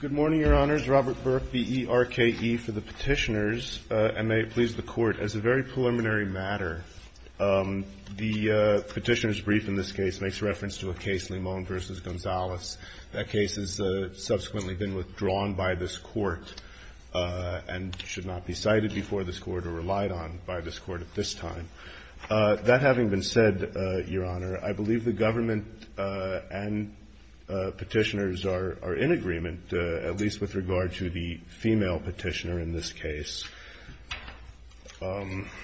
Good morning, Your Honors. Robert Burke, B-E-R-K-E, for the Petitioners. And may it please the Court, as a very preliminary matter, the Petitioners' Brief in this case makes reference to a case, Limon v. Gonzales. That case has subsequently been withdrawn by this Court and should not be cited before this Court or relied on by this Court at this time. That having been said, Your Honor, I believe the government and Petitioners are in agreement, at least with regard to the female Petitioner in this case. In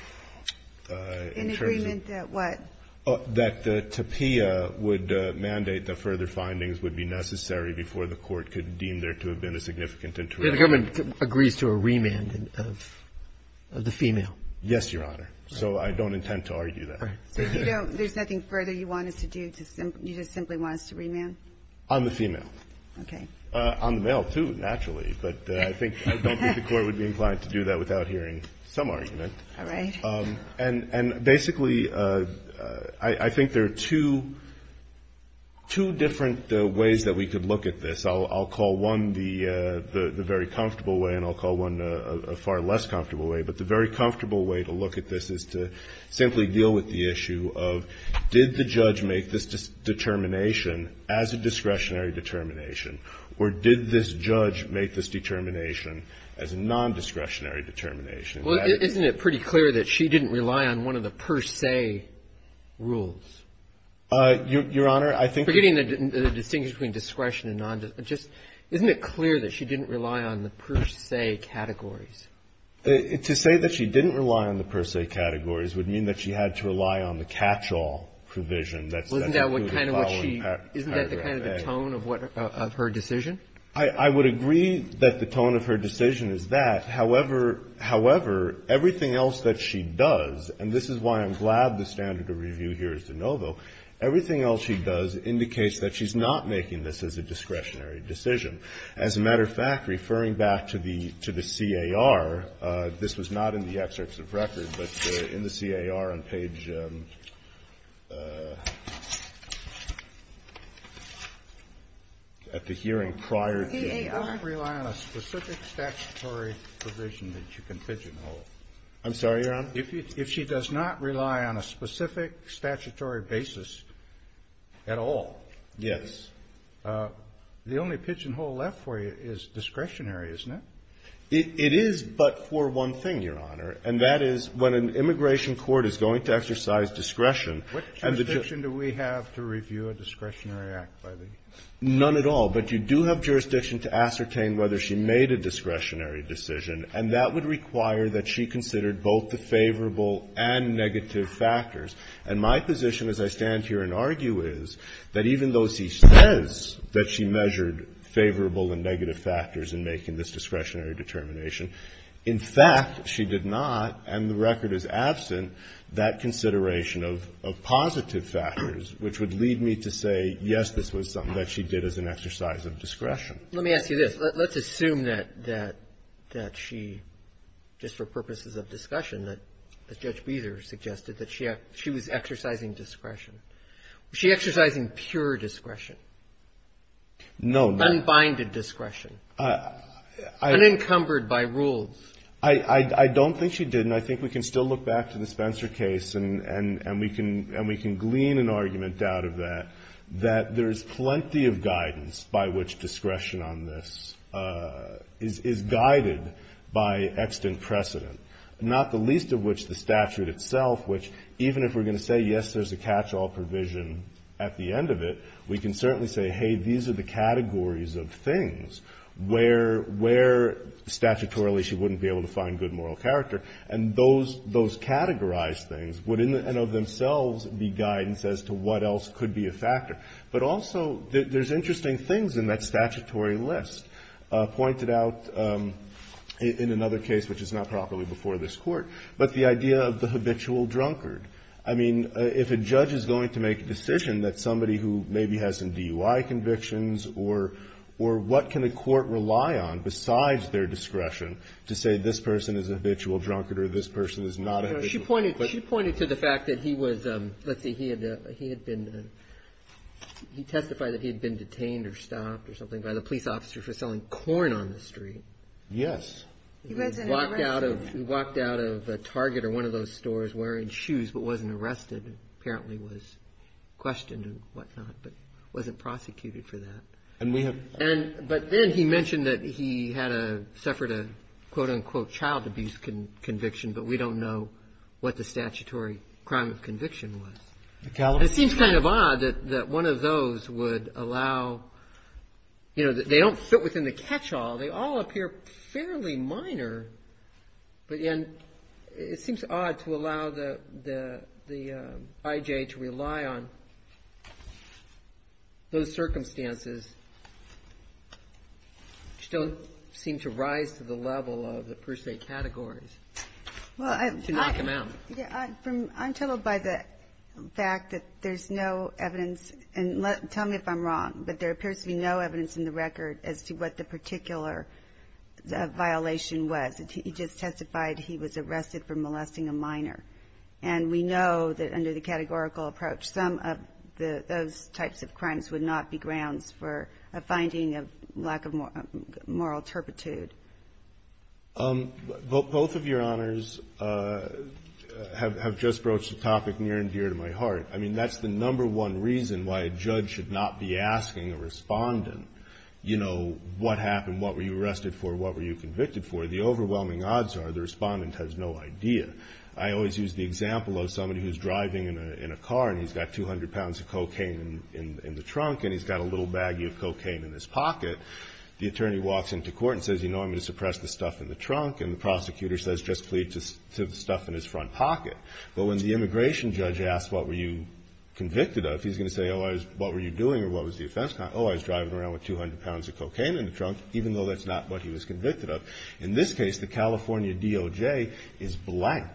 agreement that what? That Tapia would mandate that further findings would be necessary before the Court could deem there to have been a significant interruption. The government agrees to a remand of the female? Yes, Your Honor. So I don't intend to argue that. So if you don't, there's nothing further you want us to do? You just simply want us to remand? On the female. Okay. On the male, too, naturally. But I think, I don't think the Court would be inclined to do that without hearing some argument. All right. And basically, I think there are two different ways that we could look at this. I'll call one the very comfortable way and I'll call one a far less comfortable way, but the very comfortable way to look at this is to simply deal with the issue of did the judge make this determination as a discretionary determination or did this judge make this determination as a nondiscretionary determination? Well, isn't it pretty clear that she didn't rely on one of the per se rules? Your Honor, I think the distinction between discretion and nondiscretion isn't it clear that she didn't rely on the per se categories? To say that she didn't rely on the per se categories would mean that she had to rely on the catch-all provision. Isn't that the kind of tone of her decision? I would agree that the tone of her decision is that. However, everything else that she does, and this is why I'm glad the standard of review here is de novo, everything else she does indicates that she's not making this as a discretionary decision. As a matter of fact, referring back to the C.A.R., this was not in the excerpts of record, but in the C.A.R. on page at the hearing prior to. The C.A.R. She doesn't rely on a specific statutory provision that you can pigeonhole. I'm sorry, Your Honor? If she does not rely on a specific statutory basis at all. Yes. The only pigeonhole left for you is discretionary, isn't it? It is but for one thing, Your Honor, and that is when an immigration court is going to exercise discretion. What jurisdiction do we have to review a discretionary act by the U.S.? None at all. But you do have jurisdiction to ascertain whether she made a discretionary decision, and that would require that she considered both the favorable and negative factors. And my position as I stand here and argue is that even though she says that she measured favorable and negative factors in making this discretionary determination, in fact she did not, and the record is absent, that consideration of positive factors, which would lead me to say, yes, this was something that she did as an exercise of discretion. Let me ask you this. Let's assume that she, just for purposes of discussion, that Judge Beazer suggested that she was exercising discretion. Was she exercising pure discretion? No. Unbinded discretion. Unencumbered by rules. I don't think she did, and I think we can still look back to the Spencer case and we can glean an argument out of that that there is plenty of guidance by which discretion on this is guided by extant precedent, not the least of which the statute itself, which even if we're going to say, yes, there's a catch-all provision at the end of it, we can certainly say, hey, these are the categories of things where statutorily she wouldn't be able to find good moral character, and those categorized things would in and of themselves be guidance as to what else could be a factor. But also there's interesting things in that statutory list pointed out in another case which is not properly before this Court, but the idea of the habitual drunkard. I mean, if a judge is going to make a decision that somebody who maybe has some DUI convictions or what can a court rely on besides their discretion to say this person is a habitual drunkard or this person is not a habitual drunkard. She pointed to the fact that he was, let's see, he testified that he had been detained or stopped or something by the police officer for selling corn on the street. Yes. He walked out of a Target or one of those stores wearing shoes but wasn't arrested, apparently was questioned and whatnot, but wasn't prosecuted for that. But then he mentioned that he had suffered a quote-unquote child abuse conviction, but we don't know what the statutory crime of conviction was. It seems kind of odd that one of those would allow, you know, they don't fit within the catch-all. They all appear fairly minor, and it seems odd to allow the IJ to rely on those circumstances which don't seem to rise to the level of the per se categories. Well, I'm troubled by the fact that there's no evidence, and tell me if I'm wrong, but there appears to be no evidence in the record as to what the particular violation was. He just testified he was arrested for molesting a minor. And we know that under the categorical approach, some of those types of crimes would not be grounds for a finding of lack of moral turpitude. Both of Your Honors have just broached a topic near and dear to my heart. I mean, that's the number one reason why a judge should not be asking a respondent, you know, what happened? What were you arrested for? What were you convicted for? The overwhelming odds are the respondent has no idea. I always use the example of somebody who's driving in a car, and he's got 200 pounds of cocaine in the trunk, and he's got a little baggie of cocaine in his pocket. The attorney walks into court and says, you know, I'm going to suppress the stuff in the trunk. And the prosecutor says, just plead to the stuff in his front pocket. But when the immigration judge asks, what were you convicted of, he's going to say, oh, what were you doing, or what was the offense? Oh, I was driving around with 200 pounds of cocaine in the trunk, even though that's not what he was convicted of. In this case, the California DOJ is blank.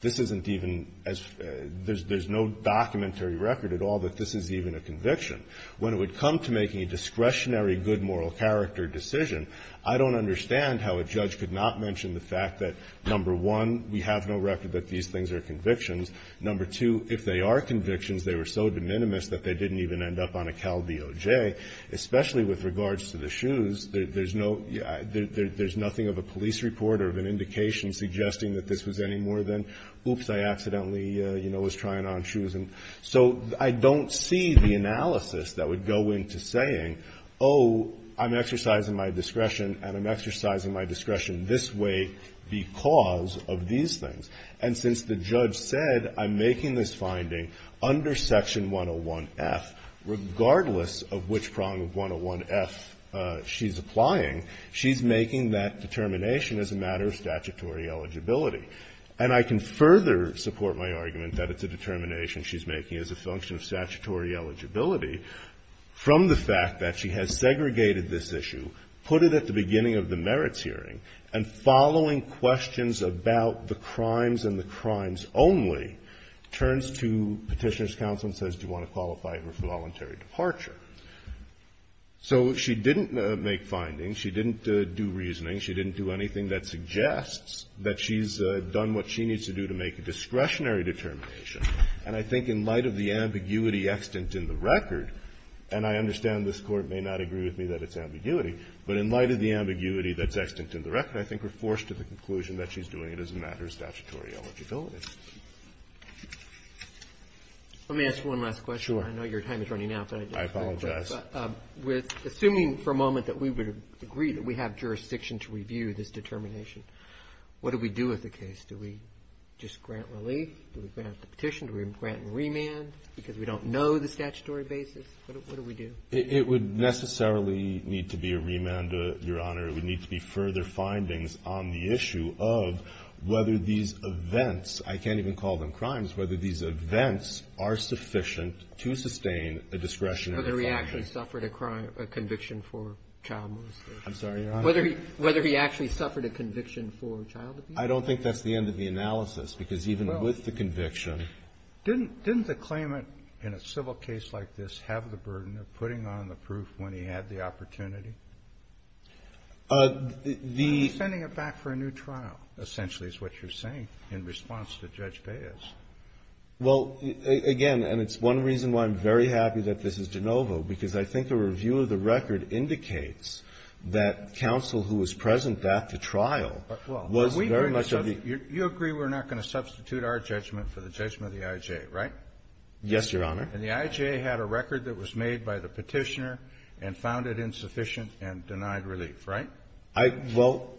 This isn't even as, there's no documentary record at all that this is even a conviction. When it would come to making a discretionary good moral character decision, I don't understand how a judge could not mention the fact that, number one, we have no record that these things are convictions. Number two, if they are convictions, they were so de minimis that they didn't even end up on a Cal DOJ, especially with regards to the shoes. There's no, there's nothing of a police report or of an indication suggesting that this was any more than, oops, I accidentally, you know, was trying on shoes. And so I don't see the analysis that would go into saying, oh, I'm exercising my discretion and I'm exercising my discretion this way because of these things. And since the judge said I'm making this finding under Section 101F, regardless of which prong of 101F she's applying, she's making that determination as a matter of statutory eligibility. And I can further support my argument that it's a determination she's making as a function of statutory eligibility from the fact that she has segregated this issue, put it at the beginning of the merits hearing, and following questions about the crimes and the crimes only, turns to Petitioner's counsel and says, do you want to qualify her for voluntary departure? So she didn't make findings. She didn't do reasoning. She didn't do anything that suggests that she's done what she needs to do to make a discretionary determination. And I think in light of the ambiguity extant in the record, and I understand this Court may not agree with me that it's ambiguity, but in light of the ambiguity that's extant in the record, I think we're forced to the conclusion that she's doing it as a matter of statutory eligibility. Let me ask one last question. I know your time is running out. I apologize. But assuming for a moment that we would agree that we have jurisdiction to review this determination, what do we do with the case? Do we just grant relief? Do we grant the petition? Do we grant a remand because we don't know the statutory basis? What do we do? It would necessarily need to be a remand, Your Honor. It would need to be further findings on the issue of whether these events, I can't even call them crimes, whether these events are sufficient to sustain a discretionary action. Whether he actually suffered a conviction for child molestation. I'm sorry, Your Honor. Whether he actually suffered a conviction for child abuse. I don't think that's the end of the analysis, because even with the conviction Didn't the claimant in a civil case like this have the burden of putting on the proof when he had the opportunity? The Sending it back for a new trial, essentially, is what you're saying in response to Judge Baez. Well, again, and it's one reason why I'm very happy that this is de novo, because I think the review of the record indicates that counsel who was present back to trial was very much of the You agree we're not going to substitute our judgment for the judgment of the I.J., right? Yes, Your Honor. And the I.J. had a record that was made by the petitioner and found it insufficient and denied relief, right? Well,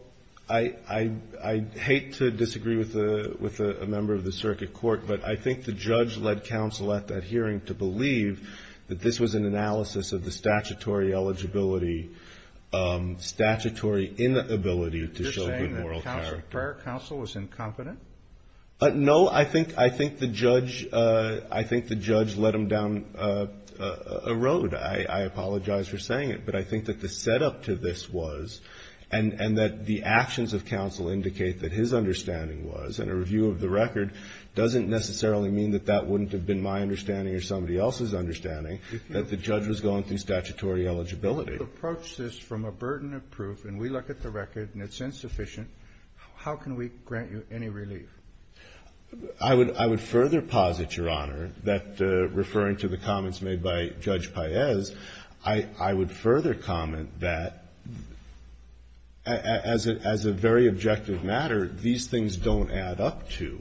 I hate to disagree with a member of the circuit court, but I think the judge led counsel at that hearing to believe that this was an analysis of the statutory eligibility, statutory inability to show good moral character. You're saying that prior counsel was incompetent? No. I think the judge let him down a road. I apologize for saying it. But I think that the setup to this was, and that the actions of counsel indicate that his understanding was, and a review of the record doesn't necessarily mean that that wouldn't have been my understanding or somebody else's understanding, that the judge was going through statutory eligibility. If you approach this from a burden of proof and we look at the record and it's insufficient, how can we grant you any relief? I would further posit, Your Honor, that referring to the comments made by Judge Kagan, I would further comment that as a very objective matter, these things don't add up to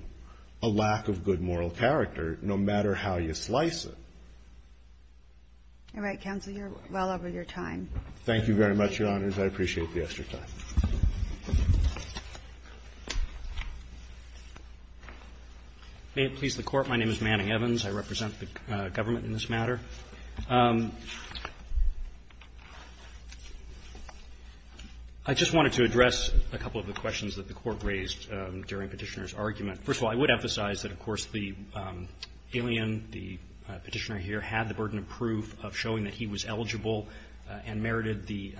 a lack of good moral character, no matter how you slice it. All right. Counsel, you're well over your time. Thank you very much, Your Honors. I appreciate the extra time. May it please the Court. My name is Manning Evans. I represent the government in this matter. I just wanted to address a couple of the questions that the Court raised during Petitioner's argument. First of all, I would emphasize that, of course, the alien, the Petitioner here, had the burden of proof of showing that he was eligible and merited the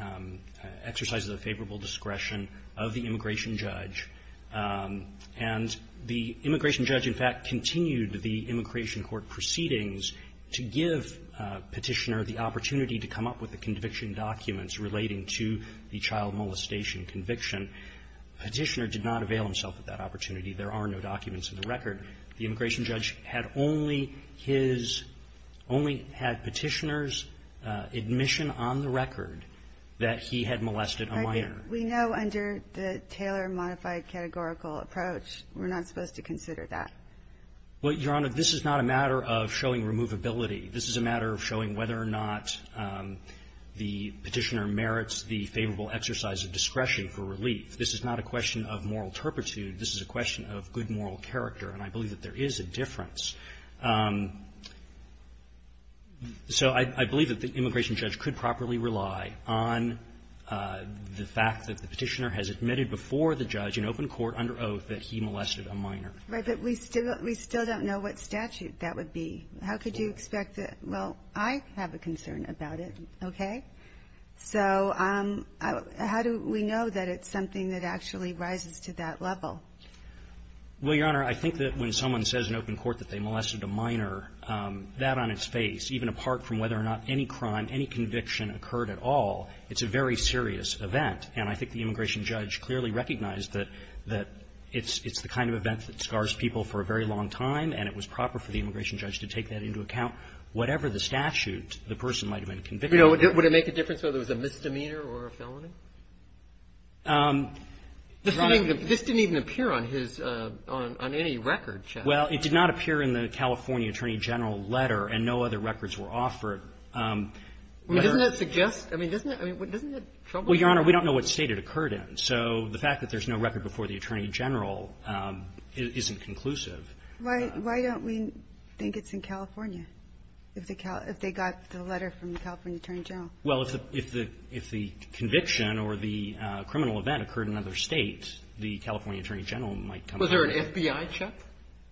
exercises of favorable discretion of the immigration judge. And the immigration judge, in fact, continued the immigration court proceedings to give Petitioner the opportunity to come up with the conviction documents relating to the child molestation conviction. Petitioner did not avail himself of that opportunity. There are no documents in the record. The immigration judge had only his – only had Petitioner's admission on the record that he had molested a minor. We know under the Taylor modified categorical approach, we're not supposed to consider Well, Your Honor, this is not a matter of showing removability. This is a matter of showing whether or not the Petitioner merits the favorable exercise of discretion for relief. This is not a question of moral turpitude. This is a question of good moral character. And I believe that there is a difference. So I believe that the immigration judge could properly rely on the fact that the Petitioner has admitted before the judge in open court under oath that he molested a minor. But we still don't know what statute that would be. How could you expect that – well, I have a concern about it, okay? So how do we know that it's something that actually rises to that level? Well, Your Honor, I think that when someone says in open court that they molested a minor, that on its face, even apart from whether or not any crime, any conviction occurred at all, it's a very serious event. And I think the immigration judge clearly recognized that it's the kind of event that scars people for a very long time, and it was proper for the immigration judge to take that into account. Whatever the statute, the person might have been convicted. Would it make a difference whether it was a misdemeanor or a felony? This didn't even appear on his – on any record, Justice. Well, it did not appear in the California Attorney General letter, and no other records were offered. Doesn't that suggest – I mean, doesn't that trouble you? Well, Your Honor, we don't know what State it occurred in. So the fact that there's no record before the Attorney General isn't conclusive. Why – why don't we think it's in California, if the – if they got the letter from the California Attorney General? Well, if the – if the conviction or the criminal event occurred in another State, the California Attorney General might come out. Was there an FBI check?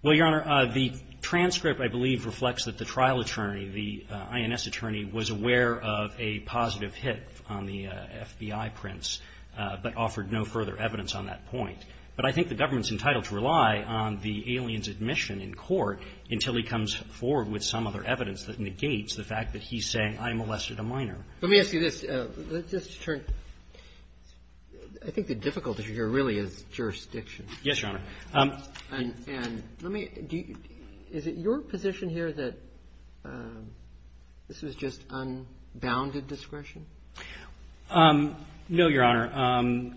Well, Your Honor, the transcript, I believe, reflects that the trial attorney, the INS attorney, was aware of a positive hit on the FBI prints, but offered no further evidence on that point. But I think the government's entitled to rely on the alien's admission in court until he comes forward with some other evidence that negates the fact that he's saying, I molested a minor. Let me ask you this. Let's just turn – I think the difficulty here really is jurisdiction. Yes, Your Honor. And let me – is it your position here that this was just unbounded discretion? No, Your Honor.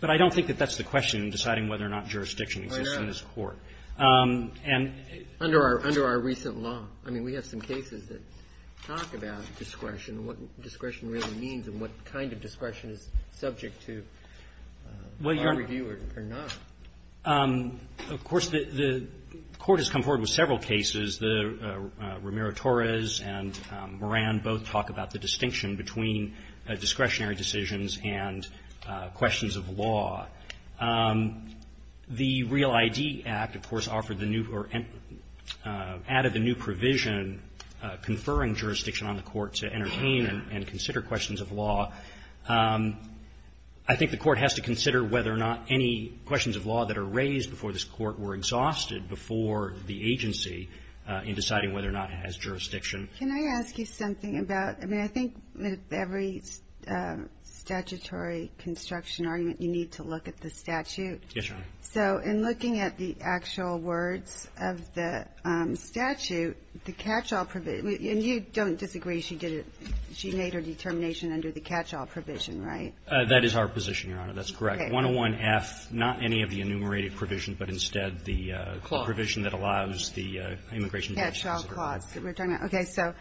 But I don't think that that's the question in deciding whether or not jurisdiction exists in this court. Under our – under our recent law. I mean, we have some cases that talk about discretion and what discretion really means and what kind of discretion is subject to our review or not. Of course, the court has come forward with several cases. Ramiro-Torres and Moran both talk about the distinction between discretionary decisions and questions of law. The Real ID Act, of course, offered the new – or added the new provision conferring jurisdiction on the court to entertain and consider questions of law. I think the court has to consider whether or not any questions of law that are raised before this court were exhausted before the agency in deciding whether or not it has jurisdiction. Can I ask you something about – I mean, I think with every statutory construction argument, you need to look at the statute. Yes, Your Honor. So in looking at the actual words of the statute, the catch-all provision – and you don't disagree she did it – she made her determination under the catch-all provision, right? That is our position, Your Honor. That's correct. Okay. 101F, not any of the enumerated provisions, but instead the provision that allows the immigration judge to consider. Catch-all clause that we're talking about. Okay. So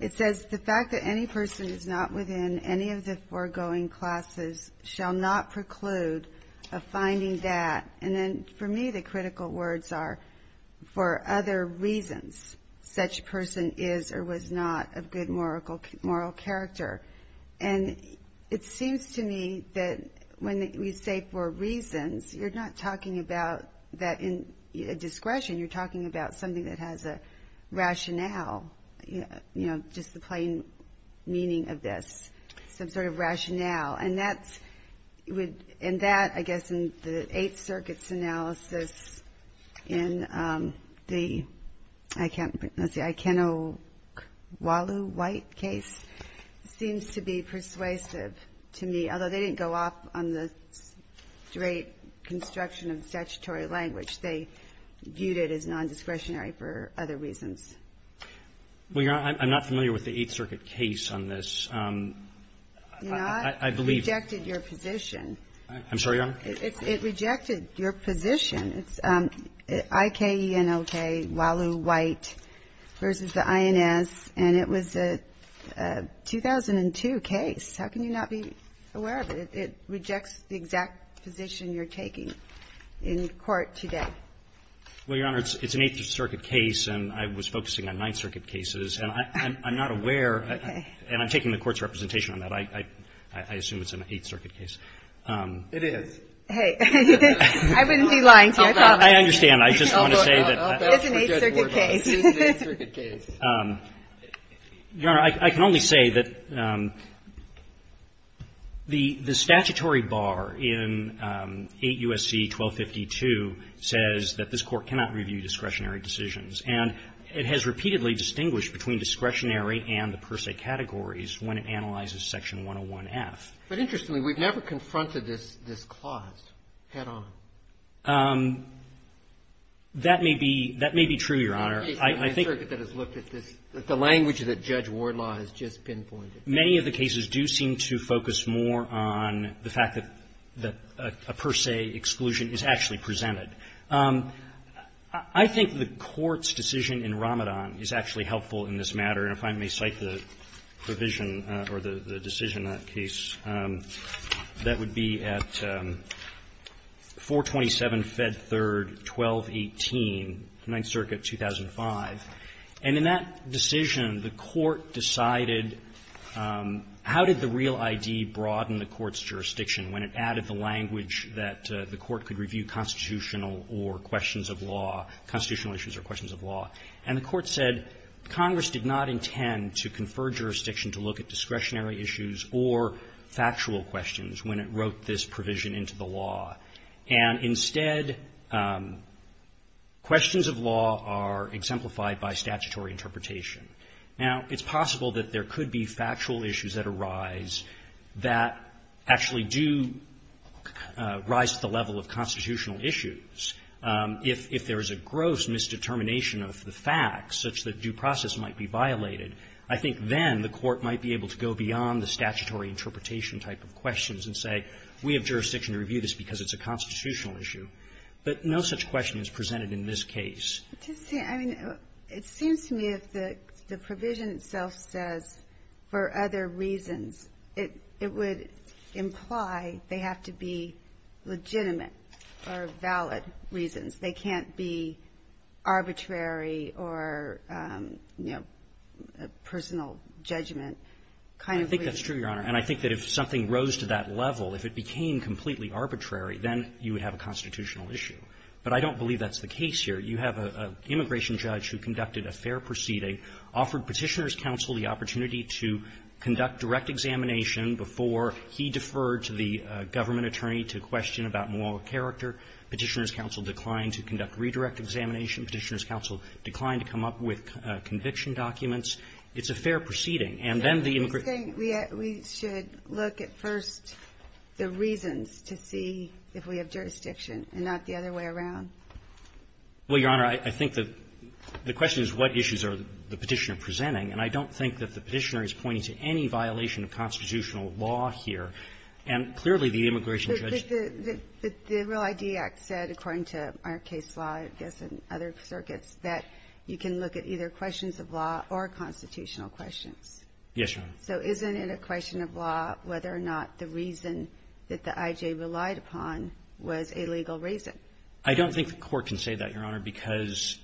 it says, the fact that any person is not within any of the foregoing classes shall not preclude a finding that – and then for me, the critical words are, for other reasons, such person is or was not of good moral character. And it seems to me that when we say for reasons, you're not talking about that in discretion. You're talking about something that has a rationale, you know, just the plain meaning of this, some sort of rationale. And that's – and that, I guess, in the Eighth Circuit's analysis in the – I can't – let's see – Ikenokwalu White case seems to be persuasive to me, although they didn't go off on the straight construction of statutory language. They viewed it as non-discretionary for other reasons. Well, Your Honor, I'm not familiar with the Eighth Circuit case on this. You're not? I believe – It rejected your position. I'm sorry, Your Honor? It rejected your position. It's Ikenokwalu White v. the INS, and it was a 2002 case. How can you not be aware of it? It rejects the exact position you're taking in court today. Well, Your Honor, it's an Eighth Circuit case, and I was focusing on Ninth Circuit cases, and I'm not aware – Okay. And I'm taking the Court's representation on that. I assume it's an Eighth Circuit case. It is. Hey. I wouldn't be lying to you. I promise. I understand. I just want to say that – It's an Eighth Circuit case. It is an Eighth Circuit case. Your Honor, I can only say that the statutory bar in 8 U.S.C. 1252 says that this Court cannot review discretionary decisions, and it has repeatedly distinguished between discretionary and the per se categories when it analyzes Section 101F. But interestingly, we've never confronted this clause head-on. That may be true, Your Honor. It's an Eighth Circuit that has looked at the language that Judge Wardlaw has just pinpointed. Many of the cases do seem to focus more on the fact that a per se exclusion is actually presented. I think the Court's decision in Ramadan is actually helpful in this matter. And if I may cite the provision or the decision in that case, that would be at 427 Fed Third 1218, Ninth Circuit, 2005. And in that decision, the Court decided how did the real ID broaden the Court's jurisdiction when it added the language that the Court could review constitutional or questions of law, constitutional issues or questions of law. And the Court said Congress did not intend to confer jurisdiction to look at discretionary issues or factual questions when it wrote this provision into the law. And instead, questions of law are exemplified by statutory interpretation. Now, it's possible that there could be factual issues that arise that actually do rise to the level of constitutional issues. If there is a gross misdetermination of the facts such that due process might be violated, I think then the Court might be able to go beyond the statutory interpretation type of questions and say, we have jurisdiction to review this because it's a constitutional issue. But no such question is presented in this case. I mean, it seems to me that the provision itself says for other reasons. It would imply they have to be legitimate or valid reasons. They can't be arbitrary or, you know, personal judgment kind of reasons. I think that's true, Your Honor. And I think that if something rose to that level, if it became completely arbitrary, then you would have a constitutional issue. But I don't believe that's the case here. You have an immigration judge who conducted a fair proceeding, offered Petitioner's Counsel the opportunity to conduct direct examination before he deferred to the government attorney to question about moral character. Petitioner's Counsel declined to conduct redirect examination. Petitioner's Counsel declined to come up with conviction documents. And then the immigration judge can't do that. We should look at first the reasons to see if we have jurisdiction and not the other way around. Well, Your Honor, I think that the question is what issues are the Petitioner presenting. And I don't think that the Petitioner is pointing to any violation of constitutional law here. And clearly, the immigration judge ---- But the Real ID Act said, according to our case law, I guess, and other circuits, that you can look at either questions of law or constitutional questions. Yes, Your Honor. So isn't it a question of law whether or not the reason that the I.J. relied upon was a legal reason? I don't think the Court can say that, Your Honor, because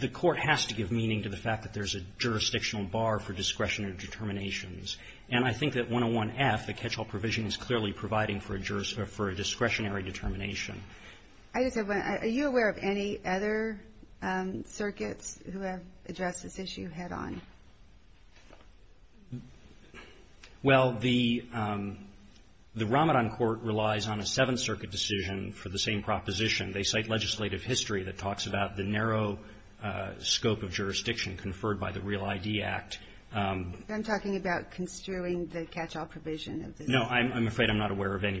the Court has to give meaning to the fact that there's a jurisdictional bar for discretionary determinations. And I think that 101F, the catch-all provision, is clearly providing for a discretionary determination. I just have one. Are you aware of any other circuits who have addressed this issue head-on? Well, the Ramadan Court relies on a Seventh Circuit decision for the same proposition. They cite legislative history that talks about the narrow scope of jurisdiction conferred by the Real ID Act. I'm talking about construing the catch-all provision. No. I'm afraid I'm not aware of any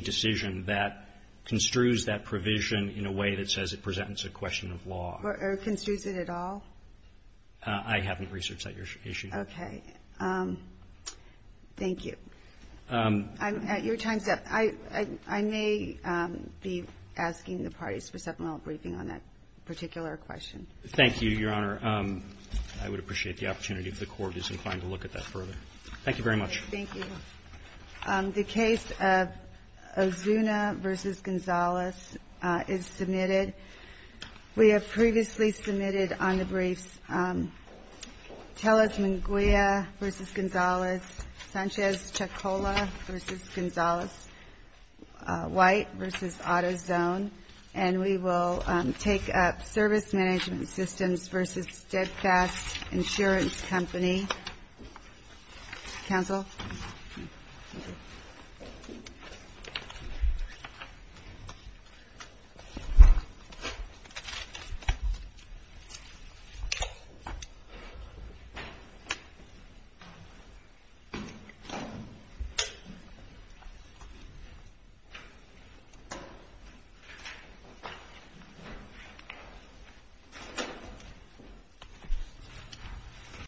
decision that construes that provision in a way that says it presents a question of law. Or construes it at all? I haven't researched that issue. Okay. Thank you. Your time's up. I may be asking the parties for supplemental briefing on that particular question. Thank you, Your Honor. I would appreciate the opportunity if the Court is inclined to look at that further. Thank you very much. Thank you. The case of Ozuna v. Gonzalez is submitted. We have previously submitted on the briefs Teles Manguia v. Gonzalez, Sanchez Chacola v. Gonzalez, White v. AutoZone, and we will take up Service Management Systems v. Steadfast Insurance Company. Counsel? Counsel?